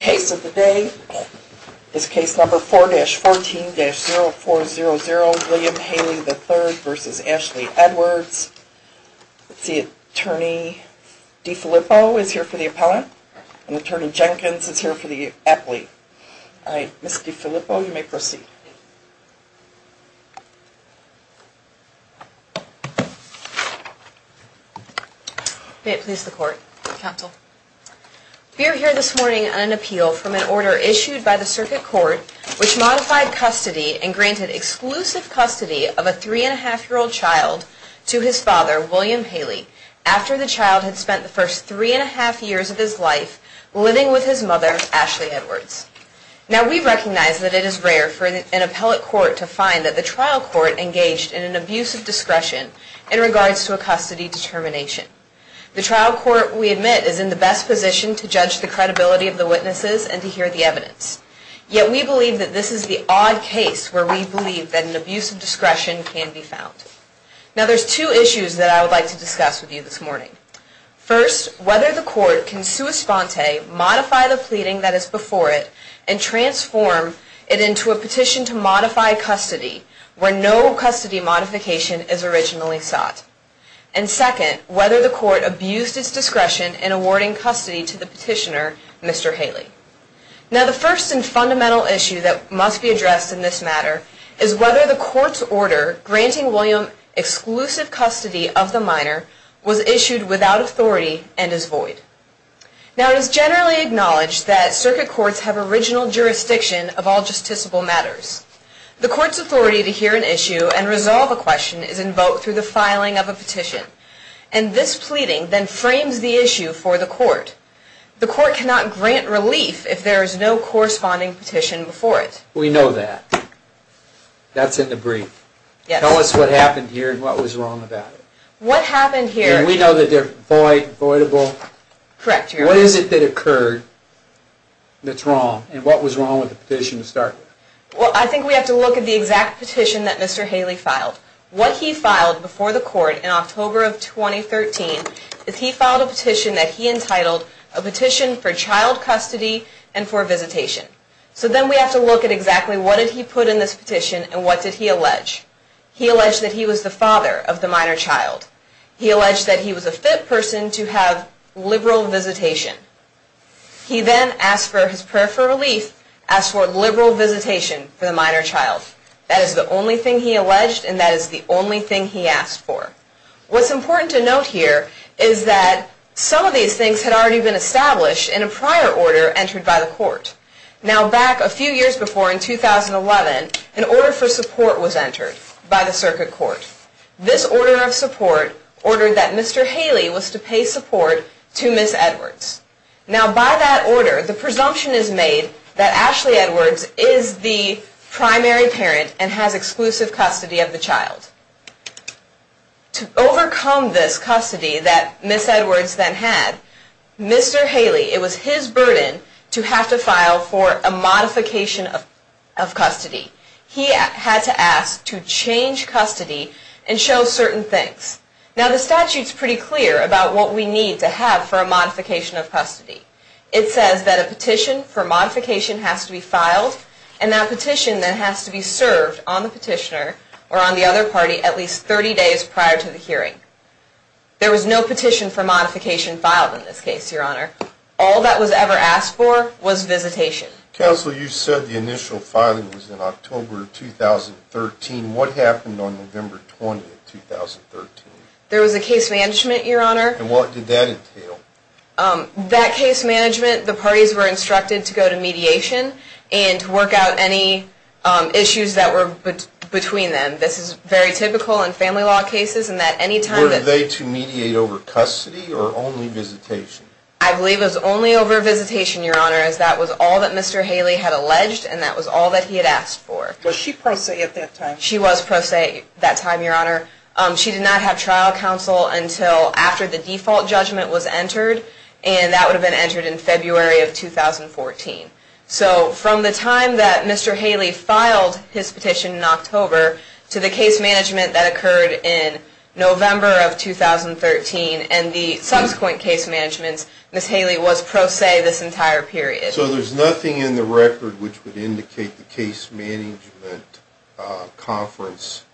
Case of the day is case number 4-14-0400, William Haley III v. Ashley Edwards. Let's see, Attorney DeFilippo is here for the appellant, and Attorney Jenkins is here for the appellate. All right, Ms. DeFilippo, you may proceed. May it please the Court, Counsel. We are here this morning on an appeal from an order issued by the Circuit Court which modified custody and granted exclusive custody of a three-and-a-half-year-old child to his father, William Haley, after the child had spent the first three-and-a-half years of his life living with his mother, Ashley Edwards. Now, we recognize that it is rare for an appellate court to find that the trial court engaged in an abuse of discretion in regards to a custody determination. The trial court, we admit, is in the best position to judge the credibility of the witnesses and to hear the evidence. Yet, we believe that this is the odd case where we believe that an abuse of discretion can be found. Now, there's two issues that I would like to discuss with you this morning. First, whether the court can sua sponte, modify the pleading that is before it, and transform it into a petition to modify custody where no custody modification is originally sought. And second, whether the court abused its discretion in awarding custody to the petitioner, Mr. Haley. Now, the first and fundamental issue that must be addressed in this matter is whether the court's order granting William exclusive custody of the minor was issued without authority and is void. Now, it is generally acknowledged that circuit courts have original jurisdiction of all justiciable matters. The court's authority to hear an issue and resolve a question is invoked through the filing of a petition. And this pleading then frames the issue for the court. The court cannot grant relief if there is no corresponding petition before it. We know that. That's in the brief. Yes. Tell us what happened here and what was wrong about it. What happened here... And we know that they're voidable. Correct. What is it that occurred that's wrong? And what was wrong with the petition to start with? Well, I think we have to look at the exact petition that Mr. Haley filed. What he filed before the court in October of 2013 is he filed a petition that he entitled a petition for child custody and for visitation. So then we have to look at exactly what did he put in this petition and what did he allege. He alleged that he was the father of the minor child. He alleged that he was a fit person to have liberal visitation. He then asked for his prayer for relief, asked for liberal visitation for the minor child. That is the only thing he alleged and that is the only thing he asked for. What's important to note here is that some of these things had already been established in a prior order entered by the court. Now back a few years before in 2011, an order for support was entered by the circuit court. This order of support ordered that Mr. Haley was to pay support to Ms. Edwards. Now by that order, the presumption is made that Ashley Edwards is the primary parent and has exclusive custody of the child. To overcome this custody that Ms. Edwards then had, Mr. Haley, it was his burden to have to file for a modification of custody. He had to ask to change custody and show certain things. Now the statute is pretty clear about what we need to have for a modification of custody. It says that a petition for modification has to be filed and that petition then has to be served on the petitioner or on the other party at least 30 days prior to the hearing. There was no petition for modification filed in this case, Your Honor. All that was ever asked for was visitation. Counsel, you said the initial filing was in October of 2013. What happened on November 20th, 2013? There was a case management, Your Honor. And what did that entail? That case management, the parties were instructed to go to mediation and to work out any issues that were between them. This is very typical in family law cases in that any time that... Were they to mediate over custody or only visitation? I believe it was only over visitation, Your Honor, as that was all that Mr. Haley had alleged and that was all that he had asked for. Was she pro se at that time? She was pro se at that time, Your Honor. She did not have trial counsel until after the default judgment was entered and that would have been entered in February of 2014. So from the time that Mr. Haley filed his petition in October to the case management that occurred in November of 2013 and the subsequent case management, Ms. Haley was pro se this entire period. So there's nothing in the record which would indicate the case management conference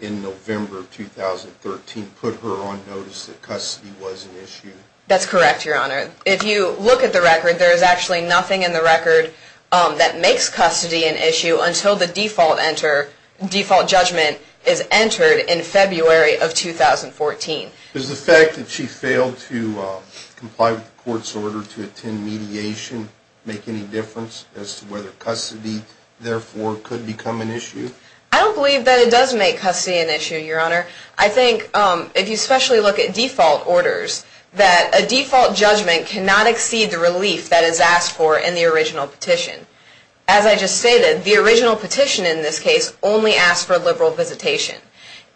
in November of 2013 put her on notice that custody was an issue? That's correct, Your Honor. If you look at the record, there is actually nothing in the record that makes custody an issue until the default judgment is entered in February of 2014. Does the fact that she failed to comply with the court's order to attend mediation make any difference as to whether custody therefore could become an issue? I don't believe that it does make custody an issue, Your Honor. I think if you especially look at default orders, that a default judgment cannot exceed the relief that is asked for in the original petition. As I just stated, the original petition in this case only asked for a liberal visitation.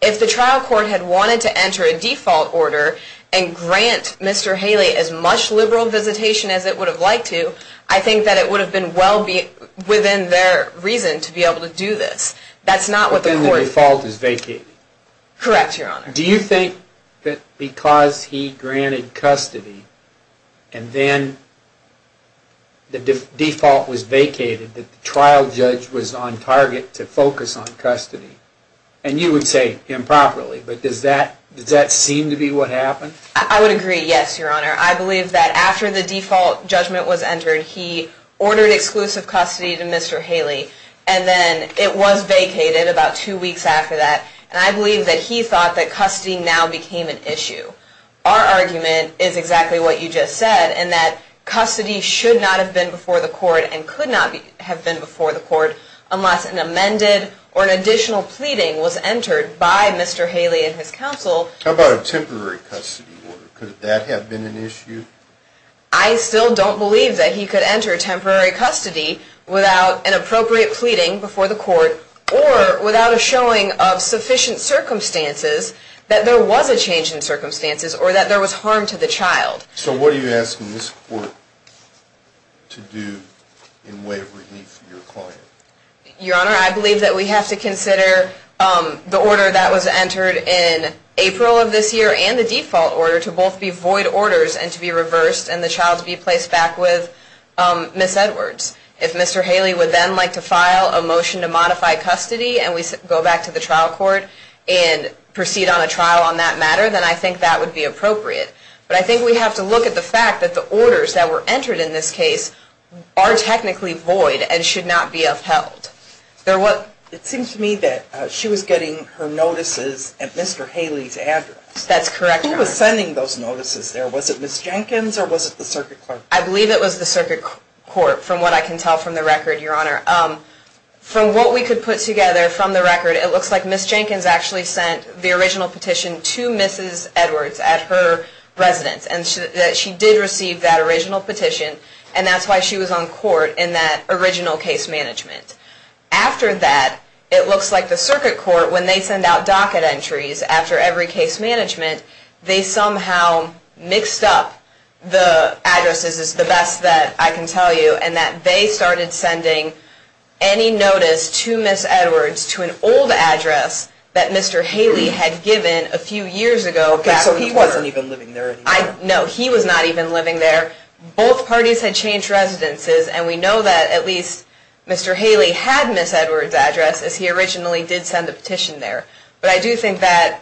If the trial court had wanted to enter a default order and grant Mr. Haley as much liberal visitation as it would have liked to, I think that it would have been well within their reason to be able to do this. But then the default is vacated. Correct, Your Honor. Do you think that because he granted custody and then the default was vacated that the trial judge was on target to focus on custody and you would say improperly, but does that seem to be what happened? I would agree, yes, Your Honor. I believe that after the default judgment was entered, he ordered exclusive custody to Mr. Haley and then it was vacated about two weeks after that. And I believe that he thought that custody now became an issue. Our argument is exactly what you just said in that custody should not have been before the court and could not have been before the court unless an amended or an additional pleading was entered by Mr. Haley and his counsel. How about a temporary custody order? Could that have been an issue? I still don't believe that he could enter temporary custody without an appropriate pleading before the court or without a showing of sufficient circumstances that there was a change in circumstances or that there was harm to the child. So what are you asking this court to do in way of relief for your client? Your Honor, I believe that we have to consider the order that was entered in April of this year and the default order to both be void orders and to be reversed and the child to be placed back with Ms. Edwards. If Mr. Haley would then like to file a motion to modify custody and we go back to the trial court and proceed on a trial on that matter, then I think that would be appropriate. But I think we have to look at the fact that the orders that were entered in this case are technically void and should not be upheld. It seems to me that she was getting her notices at Mr. Haley's address. That's correct, Your Honor. Who was sending those notices there? Was it Ms. Jenkins or was it the circuit court? I believe it was the circuit court from what I can tell from the record, Your Honor. From what we could put together from the record, it looks like Ms. Jenkins actually sent the original petition to Mrs. Edwards at her residence and that she did receive that original petition and that's why she was on court in that original case management. After that, it looks like the circuit court, when they send out docket entries after every case management, they somehow mixed up the addresses, is the best that I can tell you, and that they started sending any notice to Ms. Edwards to an old address that Mr. Haley had given a few years ago. Okay, so he wasn't even living there anymore. No, he was not even living there. Both parties had changed residences and we know that at least Mr. Haley had Ms. Edwards' address as he originally did send the petition there. But I do think that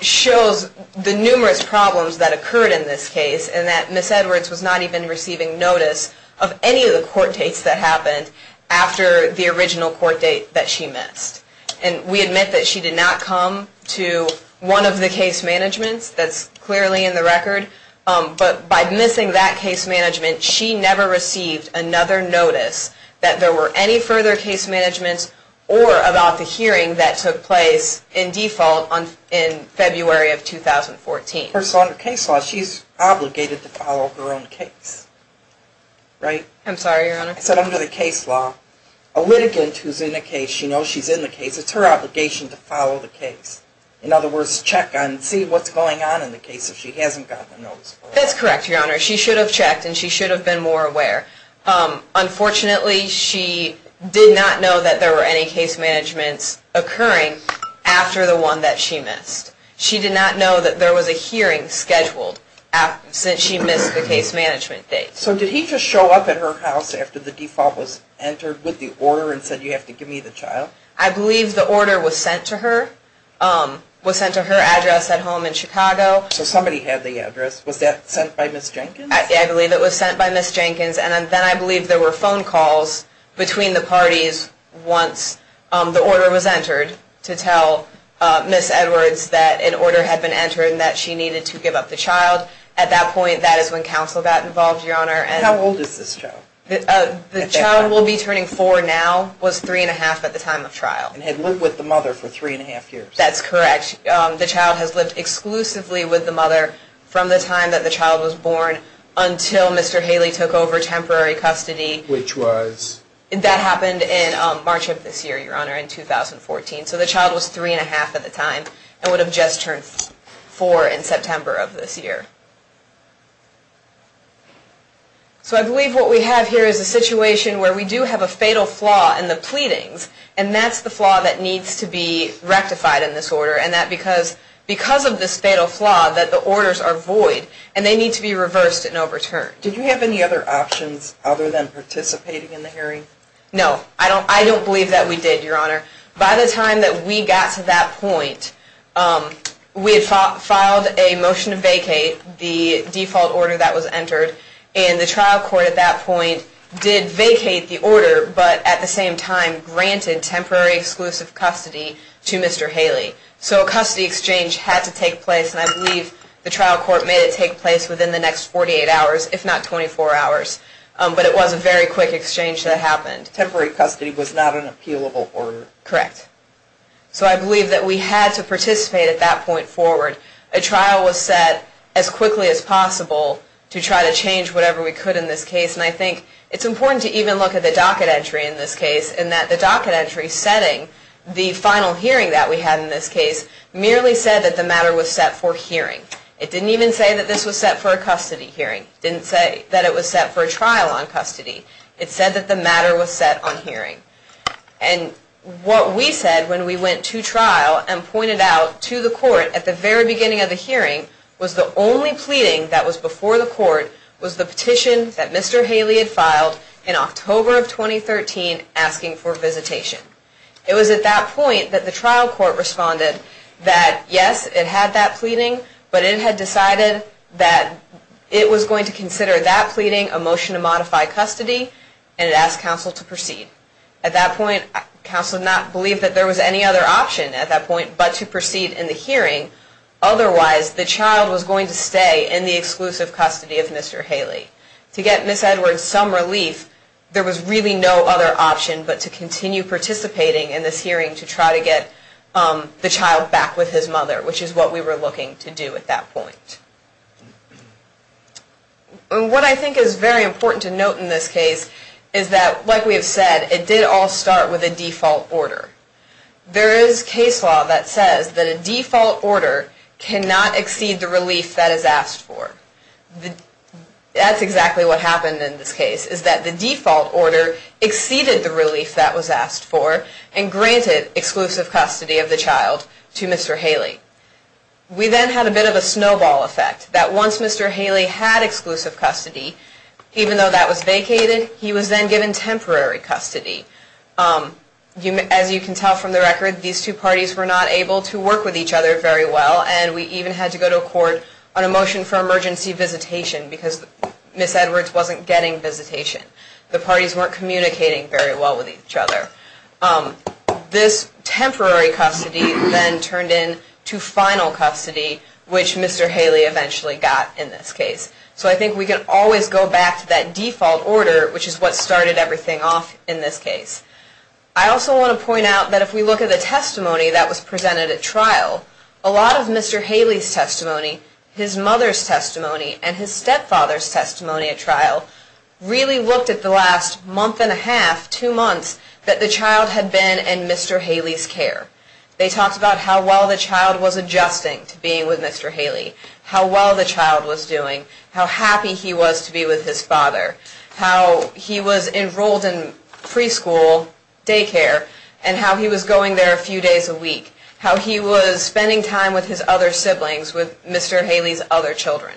shows the numerous problems that occurred in this case and that Ms. Edwards was not even receiving notice of any of the court dates that happened after the original court date that she missed. And we admit that she did not come to one of the case managements. That's clearly in the record. But by missing that case management, she never received another notice that there were any further case managements or about the hearing that took place in default in February of 2014. The person under case law, she's obligated to follow her own case, right? I'm sorry, Your Honor. I said under the case law, a litigant who's in a case, she knows she's in the case. It's her obligation to follow the case. In other words, check and see what's going on in the case if she hasn't gotten a notice. That's correct, Your Honor. She should have checked and she should have been more aware. Unfortunately, she did not know that there were any case managements occurring after the one that she missed. She did not know that there was a hearing scheduled since she missed the case management date. So did he just show up at her house after the default was entered with the order and said you have to give me the child? I believe the order was sent to her. It was sent to her address at home in Chicago. So somebody had the address. Was that sent by Ms. Jenkins? I believe it was sent by Ms. Jenkins. And then I believe there were phone calls between the parties once the order was entered to tell Ms. Edwards that an order had been entered and that she needed to give up the child. At that point, that is when counsel got involved, Your Honor. How old is this child? The child will be turning 4 now, was 3 1⁄2 at the time of trial. And had lived with the mother for 3 1⁄2 years. That's correct. The child has lived exclusively with the mother from the time that the child was born until Mr. Haley took over temporary custody. Which was? That happened in March of this year, Your Honor, in 2014. So the child was 3 1⁄2 at the time and would have just turned 4 in September of this year. So I believe what we have here is a situation where we do have a fatal flaw in the pleadings. And that's the flaw that needs to be rectified in this order. And that because of this fatal flaw that the orders are void and they need to be reversed and overturned. Did you have any other options other than participating in the hearing? No. I don't believe that we did, Your Honor. By the time that we got to that point, we had filed a motion to vacate the default order that was entered. And the trial court at that point did vacate the order, but at the same time granted temporary exclusive custody to Mr. Haley. So a custody exchange had to take place. And I believe the trial court made it take place within the next 48 hours, if not 24 hours. But it was a very quick exchange that happened. And temporary custody was not an appealable order. Correct. So I believe that we had to participate at that point forward. A trial was set as quickly as possible to try to change whatever we could in this case. And I think it's important to even look at the docket entry in this case in that the docket entry setting the final hearing that we had in this case merely said that the matter was set for hearing. It didn't even say that this was set for a custody hearing. It didn't say that it was set for a trial on custody. It said that the matter was set on hearing. And what we said when we went to trial and pointed out to the court at the very beginning of the hearing was the only pleading that was before the court was the petition that Mr. Haley had filed in October of 2013 asking for visitation. It was at that point that the trial court responded that, yes, it had that pleading, but it had decided that it was going to consider that pleading a motion to modify custody and it asked counsel to proceed. At that point, counsel did not believe that there was any other option at that point but to proceed in the hearing. Otherwise, the child was going to stay in the exclusive custody of Mr. Haley. To get Ms. Edwards some relief, there was really no other option but to continue participating in this hearing to try to get the child back with his mother, which is what we were looking to do at that point. What I think is very important to note in this case is that, like we have said, it did all start with a default order. There is case law that says that a default order cannot exceed the relief that is asked for. That's exactly what happened in this case, is that the default order exceeded the relief that was asked for and granted exclusive custody of the child to Mr. Haley. We then had a bit of a snowball effect that once Mr. Haley had exclusive custody, even though that was vacated, he was then given temporary custody. As you can tell from the record, these two parties were not able to work with each other very well and we even had to go to a court on a motion for emergency visitation because Ms. Edwards wasn't getting visitation. The parties weren't communicating very well with each other. This temporary custody then turned into final custody, which Mr. Haley eventually got in this case. So I think we can always go back to that default order, which is what started everything off in this case. I also want to point out that if we look at the testimony that was presented at trial, a lot of Mr. Haley's testimony, his mother's testimony, and his stepfather's testimony at trial really looked at the last month and a half, two months, that the child had been in Mr. Haley's care. They talked about how well the child was adjusting to being with Mr. Haley, how well the child was doing, how happy he was to be with his father, how he was enrolled in preschool, daycare, and how he was going there a few days a week, how he was spending time with his other siblings, with Mr. Haley's other children.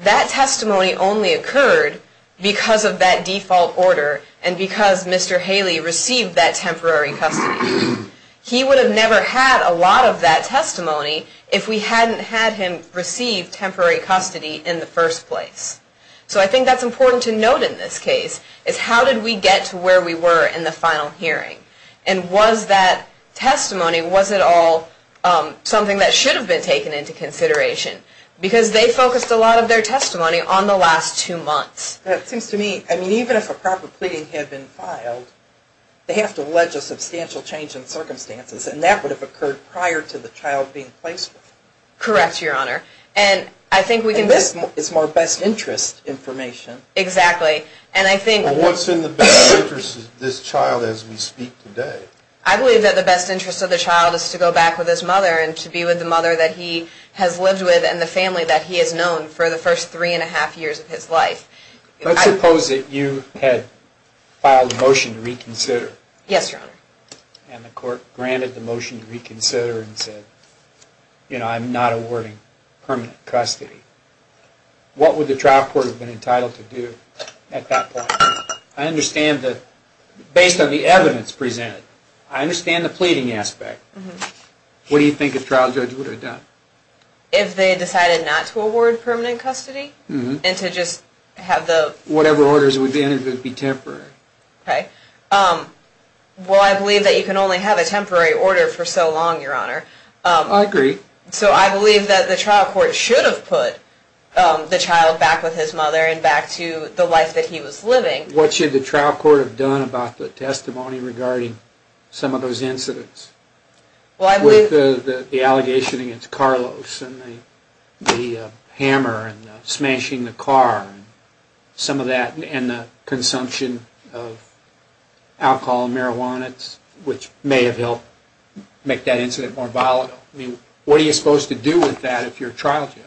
That testimony only occurred because of that default order and because Mr. Haley received that temporary custody. He would have never had a lot of that testimony if we hadn't had him receive temporary custody in the first place. So I think that's important to note in this case, is how did we get to where we were in the final hearing? And was that testimony, was it all something that should have been taken into consideration? Because they focused a lot of their testimony on the last two months. It seems to me, even if a proper pleading had been filed, they have to allege a substantial change in circumstances, and that would have occurred prior to the child being placed with him. Correct, Your Honor. And this is more best interest information. Exactly. What's in the best interest of this child as we speak today? I believe that the best interest of the child is to go back with his mother and to be with the mother that he has lived with and the family that he has known for the first three and a half years of his life. Let's suppose that you had filed a motion to reconsider. Yes, Your Honor. And the court granted the motion to reconsider and said, you know, I'm not awarding permanent custody. What would the trial court have been entitled to do at that point? I understand that, based on the evidence presented, I understand the pleading aspect. What do you think a trial judge would have done? If they decided not to award permanent custody and to just have the Whatever orders would be entered would be temporary. Okay. Well, I believe that you can only have a temporary order for so long, Your Honor. I agree. So I believe that the trial court should have put the child back with his mother and back to the life that he was living. What should the trial court have done about the testimony regarding some of those incidents? Well, I believe With the allegation against Carlos and the hammer and smashing the car and some of that and the consumption of alcohol and marijuana, which may have helped make that incident more volatile. I mean, what are you supposed to do with that if you're a trial judge?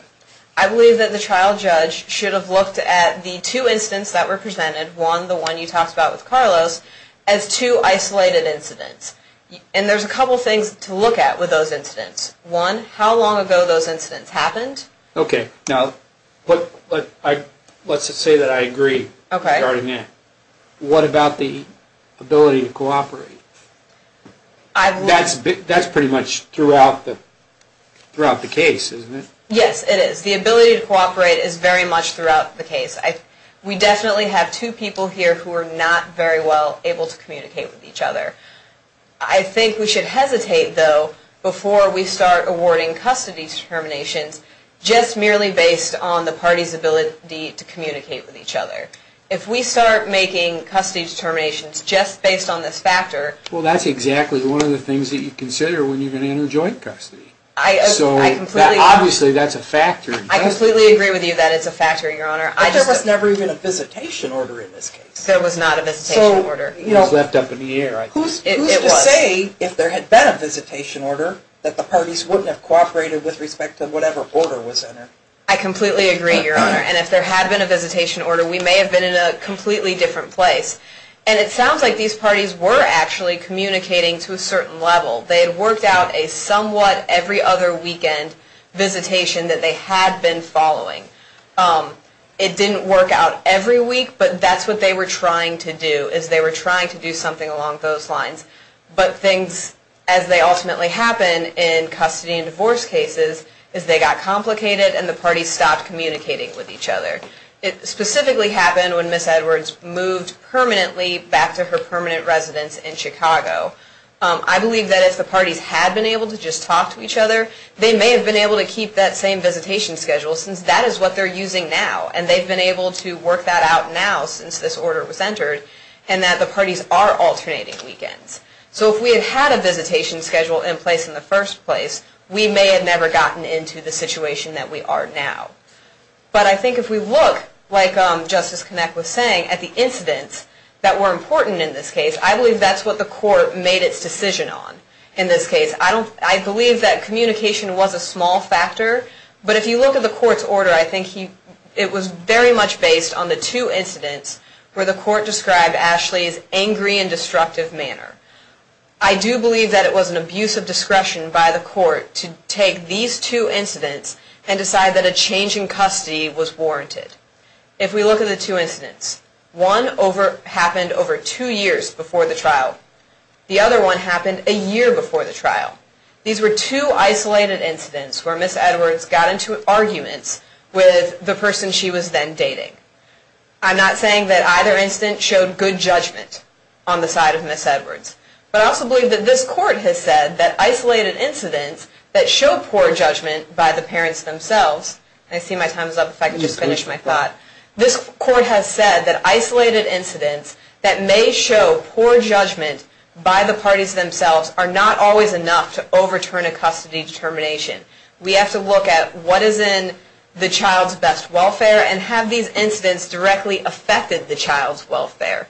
I believe that the trial judge should have looked at the two incidents that were presented, one, the one you talked about with Carlos, as two isolated incidents. And there's a couple things to look at with those incidents. One, how long ago those incidents happened. Okay. Now, let's just say that I agree. Okay. What about the ability to cooperate? That's pretty much throughout the case, isn't it? Yes, it is. The ability to cooperate is very much throughout the case. We definitely have two people here who are not very well able to communicate with each other. I think we should hesitate, though, before we start awarding custody determinations just merely based on the party's ability to communicate with each other. If we start making custody determinations just based on this factor Well, that's exactly one of the things that you consider when you're going to enter joint custody. Obviously, that's a factor. I completely agree with you that it's a factor, Your Honor. But there was never even a visitation order in this case. There was not a visitation order. It was left up in the air, I guess. Who's to say, if there had been a visitation order, that the parties wouldn't have cooperated with respect to whatever order was entered? I completely agree, Your Honor. And if there had been a visitation order, we may have been in a completely different place. And it sounds like these parties were actually communicating to a certain level. They had worked out a somewhat every-other-weekend visitation that they had been following. It didn't work out every week, but that's what they were trying to do, is they were trying to do something along those lines. But things, as they ultimately happen in custody and divorce cases, is they got complicated and the parties stopped communicating with each other. It specifically happened when Ms. Edwards moved permanently back to her permanent residence in Chicago. I believe that if the parties had been able to just talk to each other, they may have been able to keep that same visitation schedule, since that is what they're using now. And they've been able to work that out now, since this order was entered, and that the parties are alternating weekends. So if we had had a visitation schedule in place in the first place, we may have never gotten into the situation that we are now. But I think if we look, like Justice Connick was saying, at the incidents that were important in this case, I believe that's what the court made its decision on in this case. I believe that communication was a small factor, but if you look at the court's order, I think it was very much based on the two incidents where the court described Ashley's angry and destructive manner. I do believe that it was an abuse of discretion by the court to take these two incidents and decide that a change in custody was warranted. If we look at the two incidents, one happened over two years before the trial. The other one happened a year before the trial. These were two isolated incidents where Ms. Edwards got into arguments with the person she was then dating. I'm not saying that either incident showed good judgment on the side of Ms. Edwards, but I also believe that this court has said that isolated incidents that show poor judgment by the parents themselves, and I see my time is up, if I could just finish my thought, this court has said that isolated incidents that may show poor judgment by the parties themselves are not always enough to overturn a custody determination. We have to look at what is in the child's best welfare and have these incidents directly affect the child's welfare.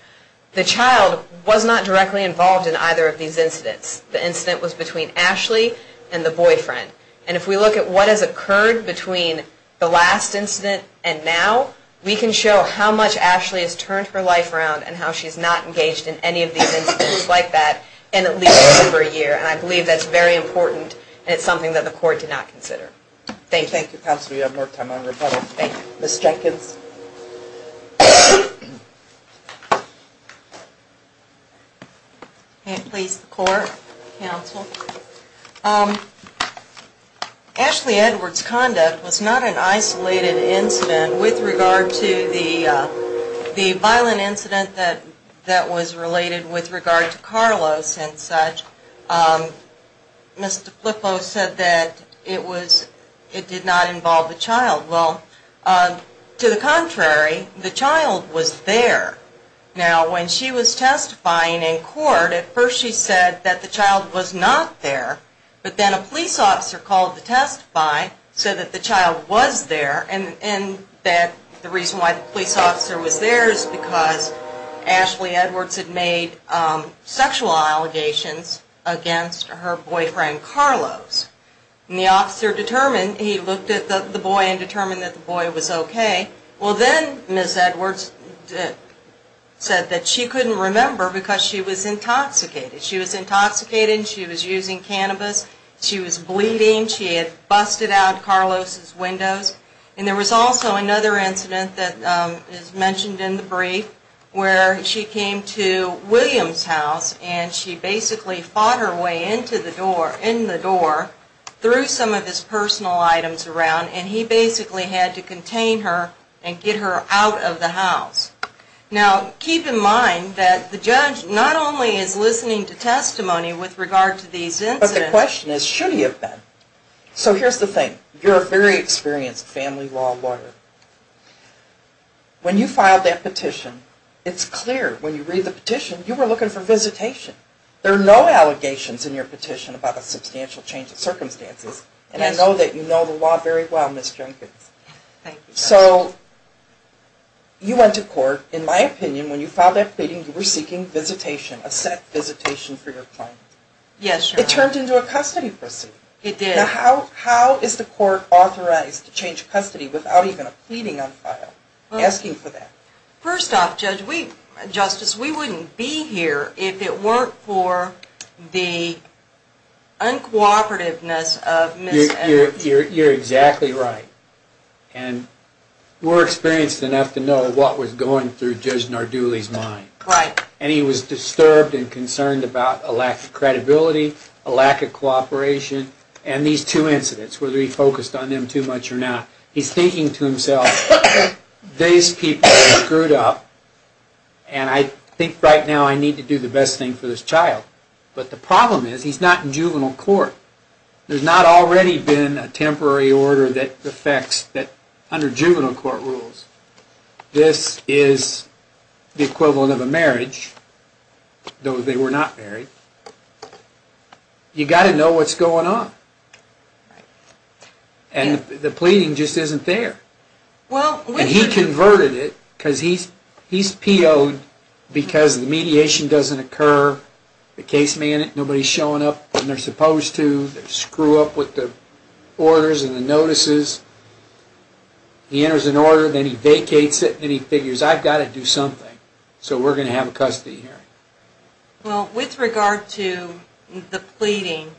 The child was not directly involved in either of these incidents. The incident was between Ashley and the boyfriend. If we look at what has occurred between the last incident and now, we can show how much Ashley has turned her life around and how she's not engaged in any of these incidents like that in at least over a year, and I believe that's very important and it's something that the court did not consider. Thank you. Thank you, counsel. We have more time on rebuttal. Thank you. Ms. Jenkins. Please. Please, the court, counsel. Ashley Edwards' conduct was not an isolated incident with regard to the violent incident that was related with regard to Carlos and such. Mr. Flippo said that it did not involve the child. Well, to the contrary, the child was there. Now, when she was testifying in court, at first she said that the child was not there, but then a police officer called to testify, said that the child was there, and that the reason why the police officer was there is because Ashley Edwards had made sexual allegations against her boyfriend, Carlos. And the officer determined, he looked at the boy and determined that the boy was okay. Well, then Ms. Edwards said that she couldn't remember because she was intoxicated. She was intoxicated and she was using cannabis. She was bleeding. She had busted out Carlos' windows. And there was also another incident that is mentioned in the brief where she came to William's house and she basically fought her way into the door, in the door, through some of his personal items around, and he basically had to contain her and get her out of the house. Now, keep in mind that the judge not only is listening to testimony with regard to these incidents. But the question is, should he have been? So here's the thing. You're a very experienced family law lawyer. When you filed that petition, it's clear when you read the petition, you were looking for visitation. There are no allegations in your petition about a substantial change of circumstances. And I know that you know the law very well, Ms. Jenkins. Thank you. So you went to court. In my opinion, when you filed that pleading, you were seeking visitation, a set visitation for your claim. Yes. It turned into a custody proceeding. It did. Now, how is the court authorized to change custody without even a pleading on file, asking for that? First off, Justice, we wouldn't be here if it weren't for the uncooperativeness of Ms. Edwards. You're exactly right. And we're experienced enough to know what was going through Judge Narduli's mind. Right. And he was disturbed and concerned about a lack of credibility, a lack of cooperation, and these two incidents, whether he focused on them too much or not. He's thinking to himself, these people are screwed up, and I think right now I need to do the best thing for this child. But the problem is, he's not in juvenile court. There's not already been a temporary order that affects, under juvenile court rules, this is the equivalent of a marriage, though they were not married. You've got to know what's going on. And the pleading just isn't there. And he converted it, because he's PO'd because the mediation doesn't occur, the case manager, nobody's showing up when they're supposed to, they screw up with the orders and the notices. He enters an order, then he vacates it, and he figures, I've got to do something. So we're going to have a custody hearing. Well, with regard to the pleading,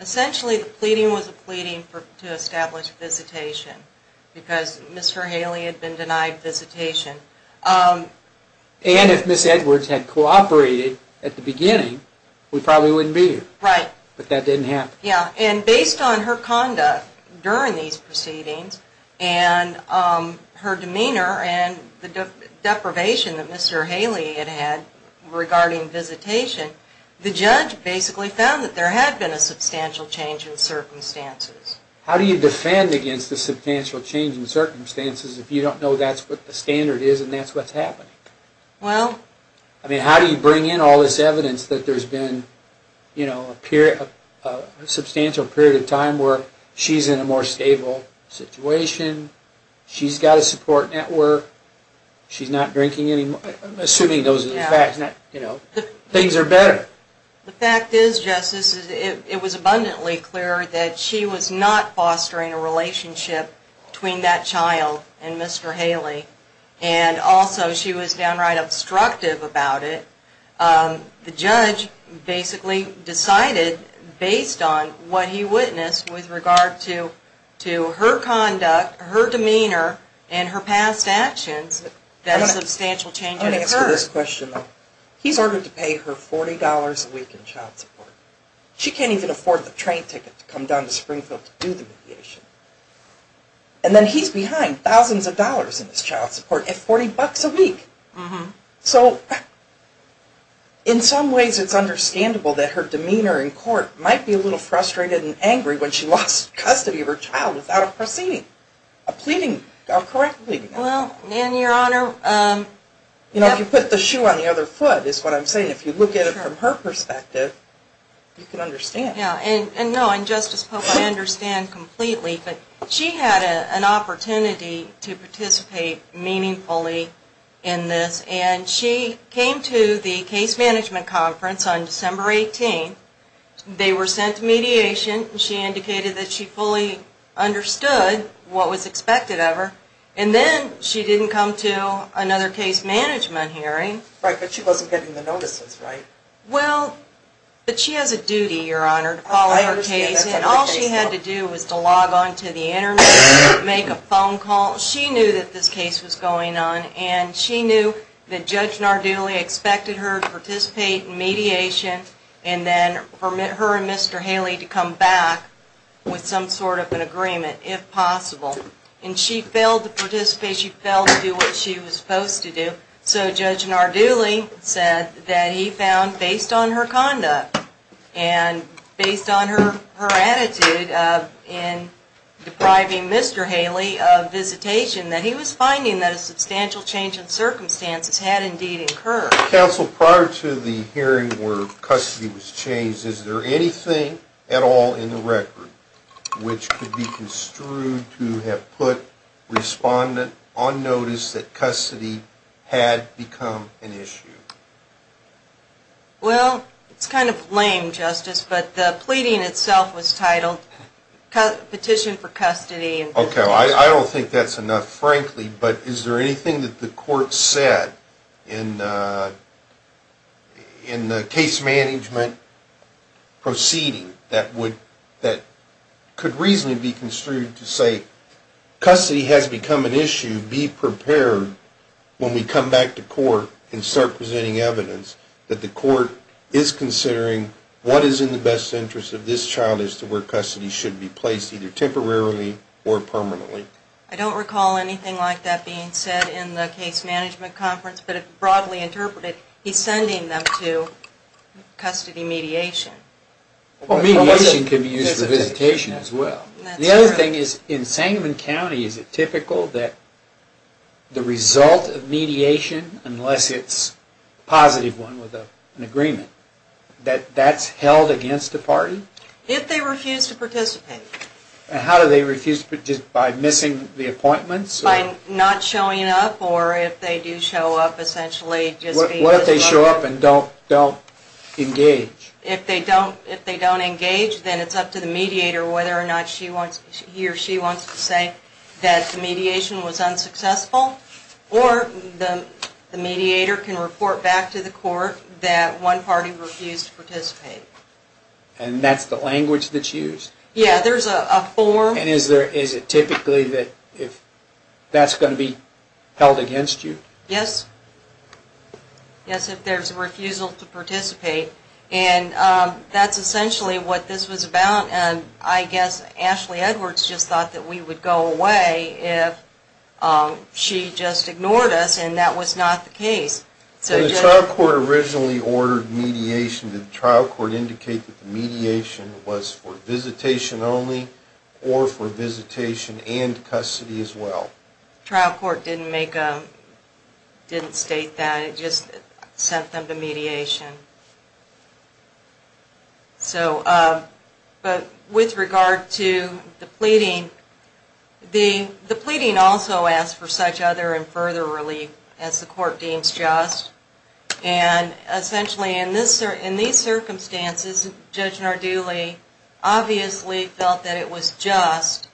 essentially the pleading was a pleading to establish visitation, because Mr. Haley had been denied visitation. And if Ms. Edwards had cooperated at the beginning, we probably wouldn't be here. Right. But that didn't happen. Yeah, and based on her conduct during these proceedings, and her demeanor and the deprivation that Mr. Haley had had regarding visitation, the judge basically found that there had been a substantial change in circumstances. How do you defend against a substantial change in circumstances if you don't know that's what the standard is and that's what's happening? Well... I mean, how do you bring in all this evidence that there's been a substantial period of time where she's in a more stable situation, she's got a support network, she's not drinking any more, assuming those are the facts, you know, things are better. The fact is, Justice, it was abundantly clear that she was not fostering a relationship between that child and Mr. Haley, and also she was downright obstructive about it. The judge basically decided, based on what he witnessed with regard to her conduct, her demeanor, and her past actions, that a substantial change had occurred. I'm going to answer this question, though. He's ordered to pay her $40 a week in child support. She can't even afford the train ticket to come down to Springfield to do the mediation. And then he's behind thousands of dollars in his child support at $40 a week. So, in some ways it's understandable that her demeanor in court might be a little frustrated and angry when she lost custody of her child without a proceeding. A pleading, a correct pleading. Well, and Your Honor... You know, if you put the shoe on the other foot, is what I'm saying. If you look at it from her perspective, you can understand. Yeah, and no, and Justice Pope, I understand completely, but she had an opportunity to participate meaningfully in this. And she came to the case management conference on December 18th. They were sent to mediation. She indicated that she fully understood what was expected of her. And then she didn't come to another case management hearing. Right, but she wasn't getting the notices, right? Well, but she has a duty, Your Honor, to follow her case. And all she had to do was to log on to the internet, make a phone call. She knew that this case was going on. And she knew that Judge Narduli expected her to participate in mediation and then for her and Mr. Haley to come back with some sort of an agreement, if possible. And she failed to participate. She failed to do what she was supposed to do. So Judge Narduli said that he found, based on her conduct and based on her attitude in depriving Mr. Haley of visitation, that he was finding that a substantial change in circumstances had indeed occurred. Counsel, prior to the hearing where custody was changed, is there anything at all in the record which could be construed to have put respondent on notice that custody had become an issue? Well, it's kind of lame, Justice, but the pleading itself was titled Petition for Custody. Okay, well, I don't think that's enough, frankly. But is there anything that the court said in the case management proceeding that could reasonably be construed to say custody has become an issue, and should you be prepared when we come back to court and start presenting evidence that the court is considering what is in the best interest of this child as to where custody should be placed, either temporarily or permanently? I don't recall anything like that being said in the case management conference, but it's broadly interpreted he's sending them to custody mediation. Well, mediation could be used for visitation as well. The other thing is, in Sangamon County, is it typical that the result of mediation, unless it's a positive one with an agreement, that that's held against the party? If they refuse to participate. How do they refuse to participate? By missing the appointments? By not showing up, or if they do show up, essentially. What if they show up and don't engage? If they don't engage, then it's up to the mediator whether or not he or she wants to say that the mediation was unsuccessful, or the mediator can report back to the court that one party refused to participate. And that's the language that's used? Yeah, there's a form. And is it typically that that's going to be held against you? Yes. Yes, if there's a refusal to participate. And that's essentially what this was about, and I guess Ashley Edwards just thought that we would go away if she just ignored us, and that was not the case. So the trial court originally ordered mediation. Did the trial court indicate that the mediation was for visitation only, or for visitation and custody as well? The trial court didn't make a, didn't state that. It just sent them to mediation. So, but with regard to the pleading, the pleading also asked for such other and further relief as the court deems just, and essentially in these circumstances, Judge Nardulli obviously felt that it was just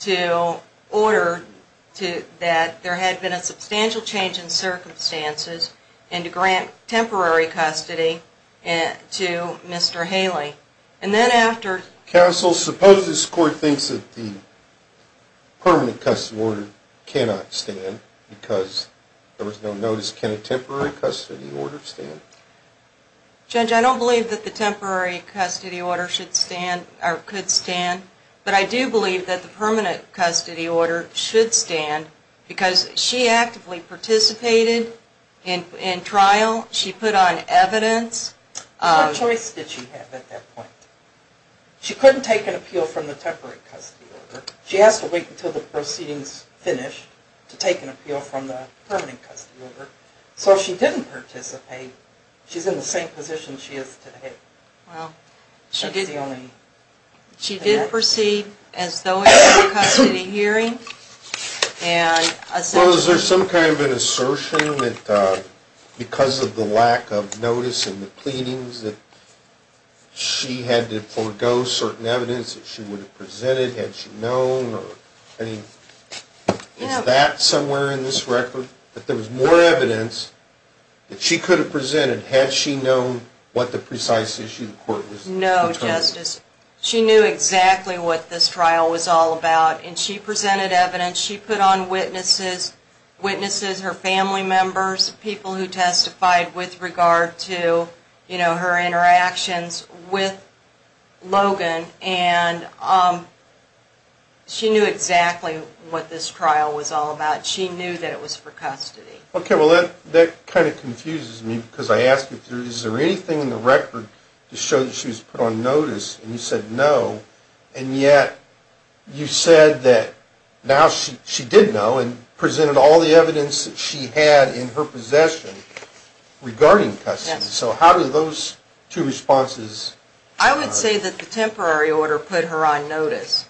to order that there had been a substantial change in circumstances and to grant temporary custody to Mr. Haley. And then after... Counsel, suppose this court thinks that the permanent custody order cannot stand because there was no notice. Can a temporary custody order stand? Judge, I don't believe that the temporary custody order should stand, or could stand, but I do believe that the permanent custody order should stand because she actively participated in trial. She put on evidence. What choice did she have at that point? She couldn't take an appeal from the temporary custody order. She has to wait until the proceedings finish to take an appeal from the permanent custody order. So if she didn't participate, she's in the same position she is today. Well, she did proceed as though it were a custody hearing, and essentially... Well, is there some kind of an assertion that because of the lack of notice in the pleadings that she had to forego certain evidence that she would have presented had she known, or is that somewhere in this record? That there was more evidence that she could have presented had she known what the precise issue the court was looking for? No, Justice. She knew exactly what this trial was all about, and she presented evidence. She put on witnesses, her family members, people who testified with regard to her interactions with Logan, and she knew exactly what this trial was all about. She knew that it was for custody. Okay, well, that kind of confuses me because I ask you, is there anything in the record to show that she was put on notice and you said no, and yet you said that now she did know and presented all the evidence that she had in her possession regarding custody. So how do those two responses... I would say that the temporary order put her on notice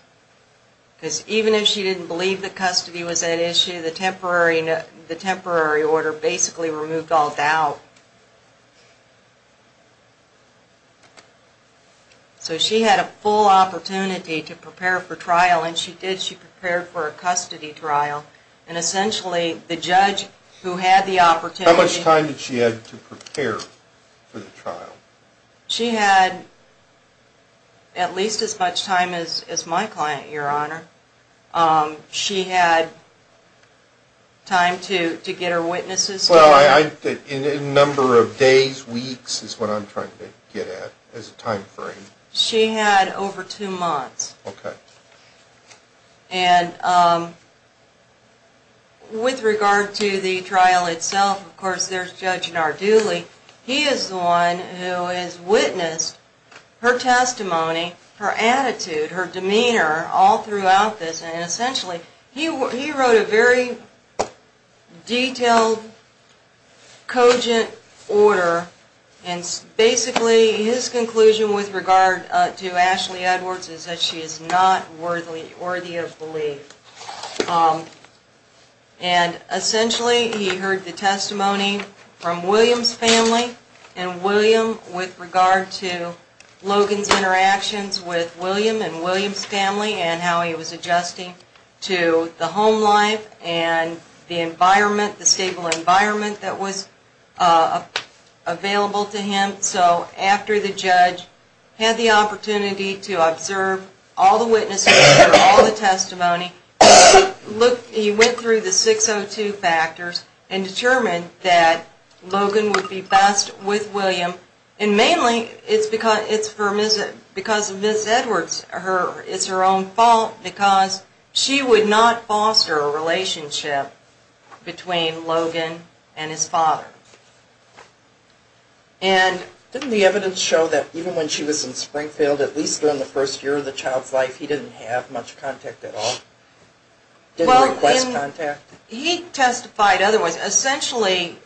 because even if she didn't believe that custody was an issue, the temporary order basically removed all doubt. So she had a full opportunity to prepare for trial, and she did, she prepared for a custody trial, and essentially the judge who had the opportunity... How much time did she have to prepare for the trial? She had at least as much time as my client, Your Honor. She had time to get her witnesses... Well, a number of days, weeks is what I'm trying to get at as a time frame. She had over two months. Okay. And with regard to the trial itself, of course, there's Judge Narduli. He is the one who has witnessed her testimony, her attitude, her demeanor all throughout this, and essentially he wrote a very detailed, cogent order, and basically his conclusion with regard to Ashley Edwards is that she is not worthy of belief. And essentially he heard the testimony from William's family, and William with regard to Logan's interactions with William and William's family and how he was adjusting to the home life and the environment, the stable environment that was available to him. So after the judge had the opportunity to observe all the witnesses and all the testimony, he went through the 602 factors and determined that Logan would be best with William, and mainly it's because of Ms. Edwards, it's her own fault, because she would not foster a relationship between Logan and his father. Didn't the evidence show that even when she was in Springfield, at least during the first year of the child's life, he didn't have much contact at all? Didn't request contact? He testified otherwise. Essentially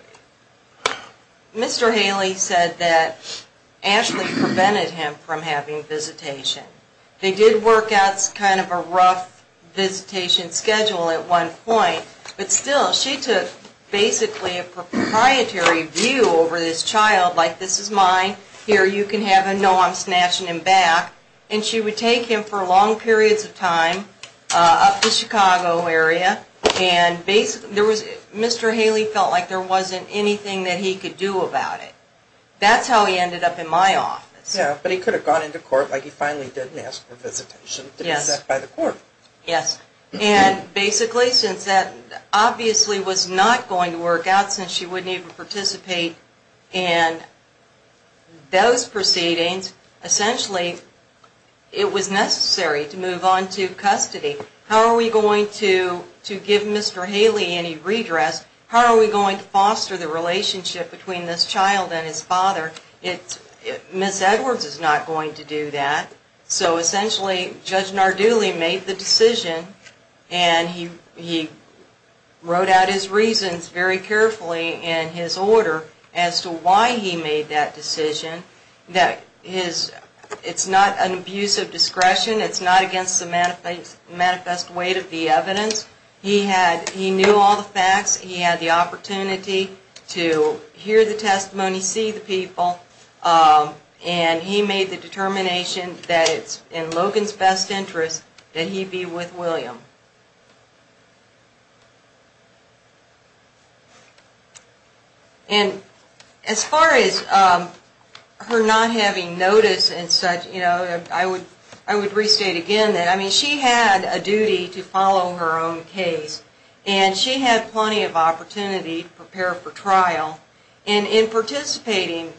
Mr. Haley said that Ashley prevented him from having visitation. They did work out kind of a rough visitation schedule at one point, but still she took basically a proprietary view over this child, like this is mine, here you can have him, no, I'm snatching him back, and she would take him for long periods of time up the Chicago area and Mr. Haley felt like there wasn't anything that he could do about it. That's how he ended up in my office. Yeah, but he could have gone into court like he finally did and asked for visitation to be set by the court. Yes, and basically since that obviously was not going to work out since she wouldn't even participate in those proceedings, essentially it was necessary to move on to custody. How are we going to give Mr. Haley any redress? How are we going to foster the relationship between this child and his father? Ms. Edwards is not going to do that. So essentially Judge Narduli made the decision and he wrote out his reasons very carefully in his order as to why he made that decision. It's not an abuse of discretion. It's not against the manifest weight of the evidence. He knew all the facts. He had the opportunity to hear the testimony, see the people, and he made the determination that it's in Logan's best interest that he be with William. As far as her not having notice and such, I would restate again that she had a duty to follow her own case and she had plenty of opportunity to prepare for trial. In participating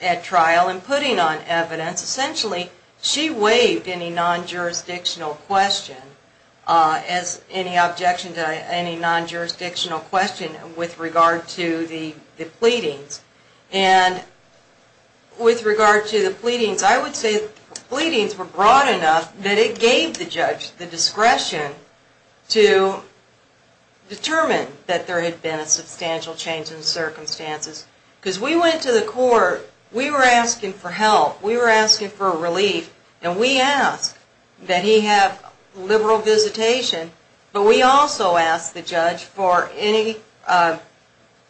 at trial and putting on evidence, essentially she waived any non-jurisdictional question as any objection to any non-jurisdictional question with regard to the pleadings. And with regard to the pleadings, I would say the pleadings were broad enough that it gave the judge the discretion to determine that there had been a substantial change in circumstances. Because we went to the court, we were asking for help, we were asking for relief, and we asked that he have liberal visitation, but we also asked the judge for any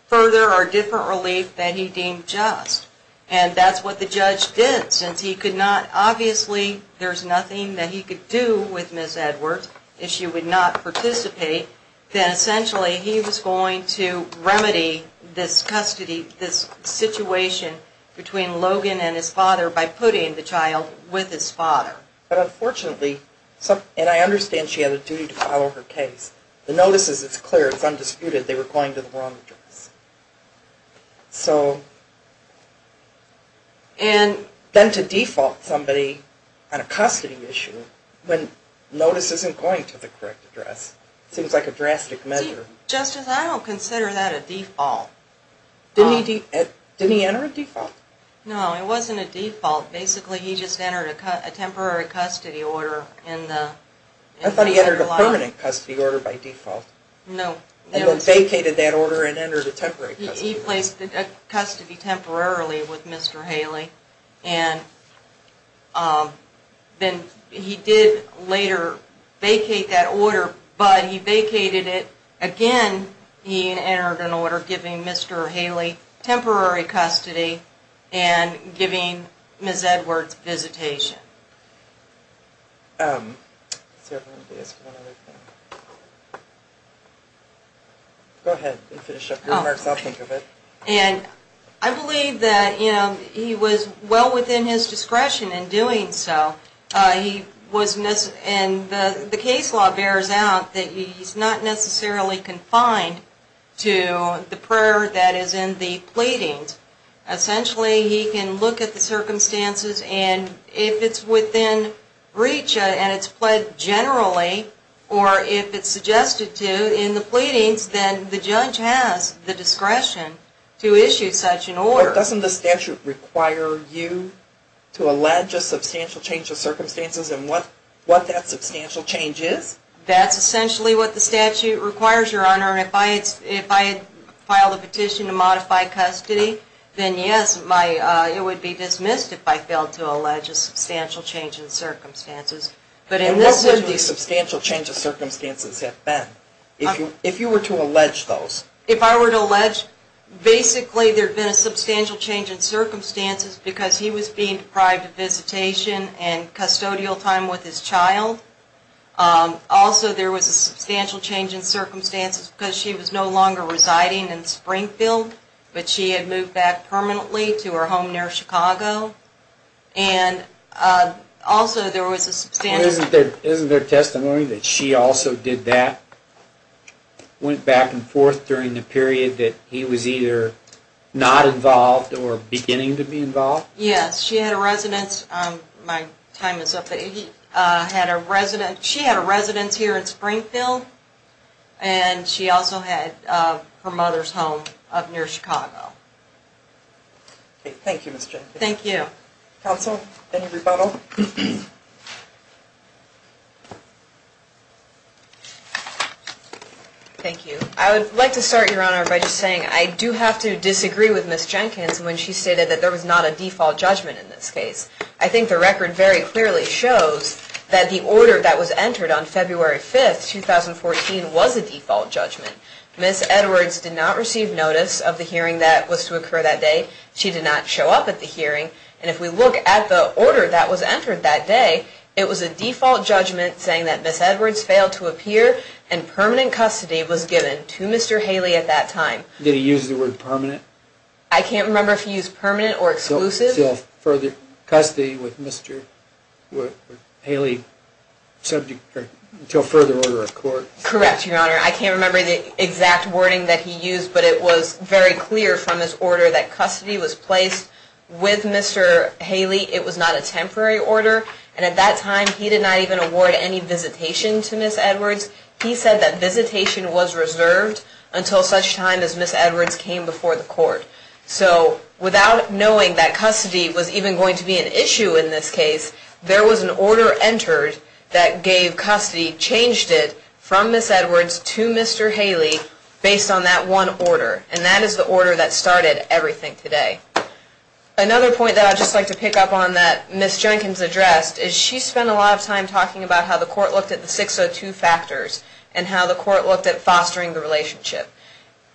further or different relief that he deemed just. And that's what the judge did, since he could not, obviously there's nothing that he could do with Ms. Edwards if she would not participate, then essentially he was going to remedy this custody, this situation between Logan and his father by putting the child with his father. But unfortunately, and I understand she had a duty to follow her case, the notice is clear, it's undisputed, they were going to the wrong address. So... And then to default somebody on a custody issue when notice isn't going to the correct address seems like a drastic measure. Justice, I don't consider that a default. Didn't he enter a default? No, it wasn't a default. Basically he just entered a temporary custody order in the... I thought he entered a permanent custody order by default. No. And then vacated that order and entered a temporary custody order. He placed a custody temporarily with Mr. Haley, and then he did later vacate that order, but he vacated it again, and then he entered an order giving Mr. Haley temporary custody and giving Ms. Edwards visitation. Let's see, I'm going to ask one other thing. Go ahead and finish up your remarks, I'll think of it. And I believe that he was well within his discretion in doing so. And the case law bears out that he's not necessarily confined to the prayer that is in the pleadings. Essentially he can look at the circumstances, and if it's within breach and it's pled generally, or if it's suggested to in the pleadings, Doesn't the statute require you to allege a substantial change of circumstances and what that substantial change is? That's essentially what the statute requires, Your Honor. If I had filed a petition to modify custody, then yes, it would be dismissed if I failed to allege a substantial change in circumstances. And what would the substantial change of circumstances have been? If you were to allege those? If I were to allege, basically there'd been a substantial change in circumstances because he was being deprived of visitation and custodial time with his child. Also there was a substantial change in circumstances because she was no longer residing in Springfield, but she had moved back permanently to her home near Chicago. And also there was a substantial change in circumstances. Isn't there testimony that she also did that? Went back and forth during the period that he was either not involved or beginning to be involved? Yes, she had a residence. My time is up. She had a residence here in Springfield, and she also had her mother's home up near Chicago. Thank you, Ms. Jenkins. Thank you. Counsel, any rebuttal? Thank you. I would like to start, Your Honor, by just saying I do have to disagree with Ms. Jenkins when she stated that there was not a default judgment in this case. I think the record very clearly shows that the order that was entered on February 5th, 2014 was a default judgment. Ms. Edwards did not receive notice of the hearing that was to occur that day. She did not show up at the hearing. And if we look at the order that was entered that day, it was a default judgment saying that Ms. Edwards failed to appear and permanent custody was given to Mr. Haley at that time. Did he use the word permanent? I can't remember if he used permanent or exclusive. So further custody with Mr. Haley until further order of court? Correct, Your Honor. I can't remember the exact wording that he used, but it was very clear from this order that custody was placed with Mr. Haley. It was not a temporary order. And at that time, he did not even award any visitation to Ms. Edwards. He said that visitation was reserved until such time as Ms. Edwards came before the court. So without knowing that custody was even going to be an issue in this case, there was an order entered that gave custody, changed it from Ms. Edwards to Mr. Haley based on that one order. And that is the order that started everything today. Another point that I'd just like to pick up on that Ms. Jenkins addressed is she spent a lot of time talking about how the court looked at the 602 factors and how the court looked at fostering the relationship.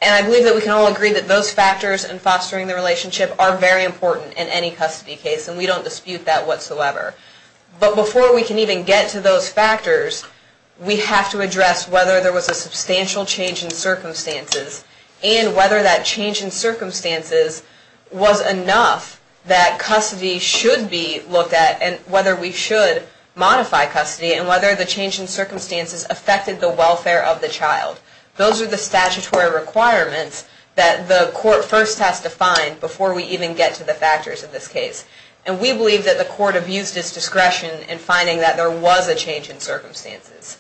And I believe that we can all agree that those factors and fostering the relationship are very important in any custody case, and we don't dispute that whatsoever. But before we can even get to those factors, we have to address whether there was a substantial change in circumstances and whether that change in circumstances was enough that custody should be looked at and whether we should modify custody and whether the change in circumstances affected the welfare of the child. Those are the statutory requirements that the court first has to find before we even get to the factors of this case. And we believe that the court abused its discretion in finding that there was a change in circumstances.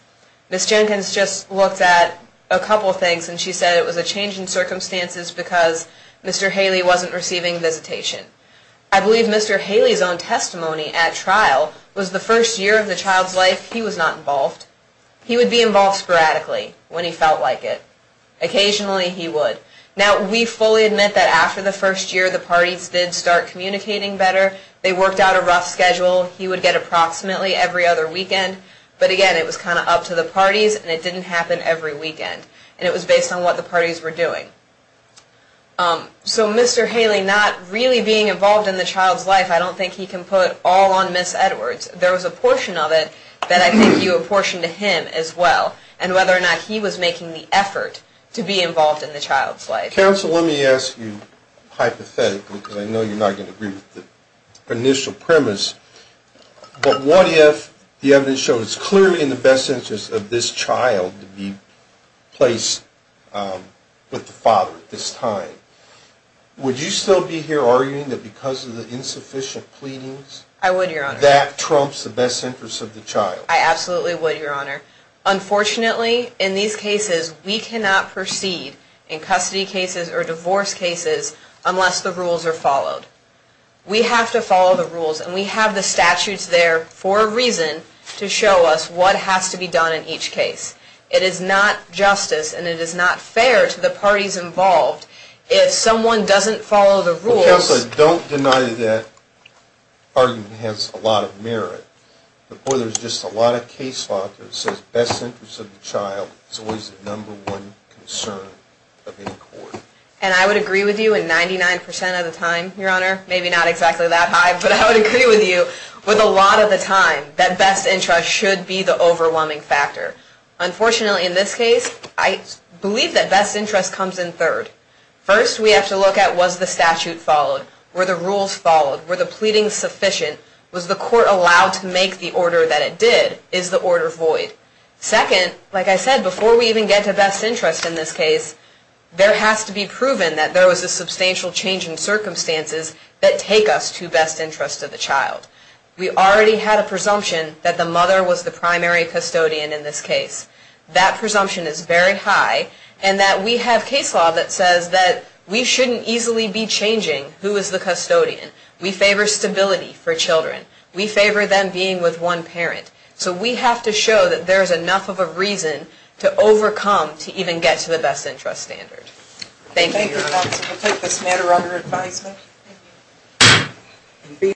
Ms. Jenkins just looked at a couple of things, and she said it was a change in circumstances because Mr. Haley wasn't receiving visitation. I believe Mr. Haley's own testimony at trial was the first year of the child's life he was not involved. He would be involved sporadically when he felt like it. Occasionally, he would. Now, we fully admit that after the first year, the parties did start communicating better. They worked out a rough schedule. He would get approximately every other weekend. But again, it was kind of up to the parties, and it didn't happen every weekend. And it was based on what the parties were doing. So Mr. Haley not really being involved in the child's life, I don't think he can put all on Ms. Edwards. There was a portion of it that I think you apportioned to him as well, and whether or not he was making the effort to be involved in the child's life. Counsel, let me ask you hypothetically, because I know you're not going to agree with the initial premise, but what if the evidence shows clearly in the best interest of this child to be placed with the father at this time? Would you still be here arguing that because of the insufficient pleadings, that trumps the best interest of the child? I absolutely would, Your Honor. Unfortunately, in these cases, we cannot proceed in custody cases or divorce cases unless the rules are followed. We have to follow the rules, and we have the statutes there for a reason to show us what has to be done in each case. It is not justice, and it is not fair to the parties involved. If someone doesn't follow the rules... Counsel, don't deny that that argument has a lot of merit. There's just a lot of case law that says best interest of the child is always the number one concern of any court. And I would agree with you, and 99% of the time, Your Honor, maybe not exactly that high, but I would agree with you, with a lot of the time that best interest should be the overwhelming factor. Unfortunately, in this case, I believe that best interest comes in third. First, we have to look at was the statute followed? Were the rules followed? Were the pleadings sufficient? Was the court allowed to make the order that it did? Is the order void? Second, like I said, before we even get to best interest in this case, there has to be proven that there was a substantial change in circumstances that take us to best interest of the child. We already had a presumption that the mother was the primary custodian in this case. That presumption is very high, and that we have case law that says that we shouldn't easily be changing who is the custodian. We favor stability for children. We favor them being with one parent. So we have to show that there's enough of a reason to overcome to even get to the best interest standard. Thank you, Your Honor. We'll take this matter under advisement.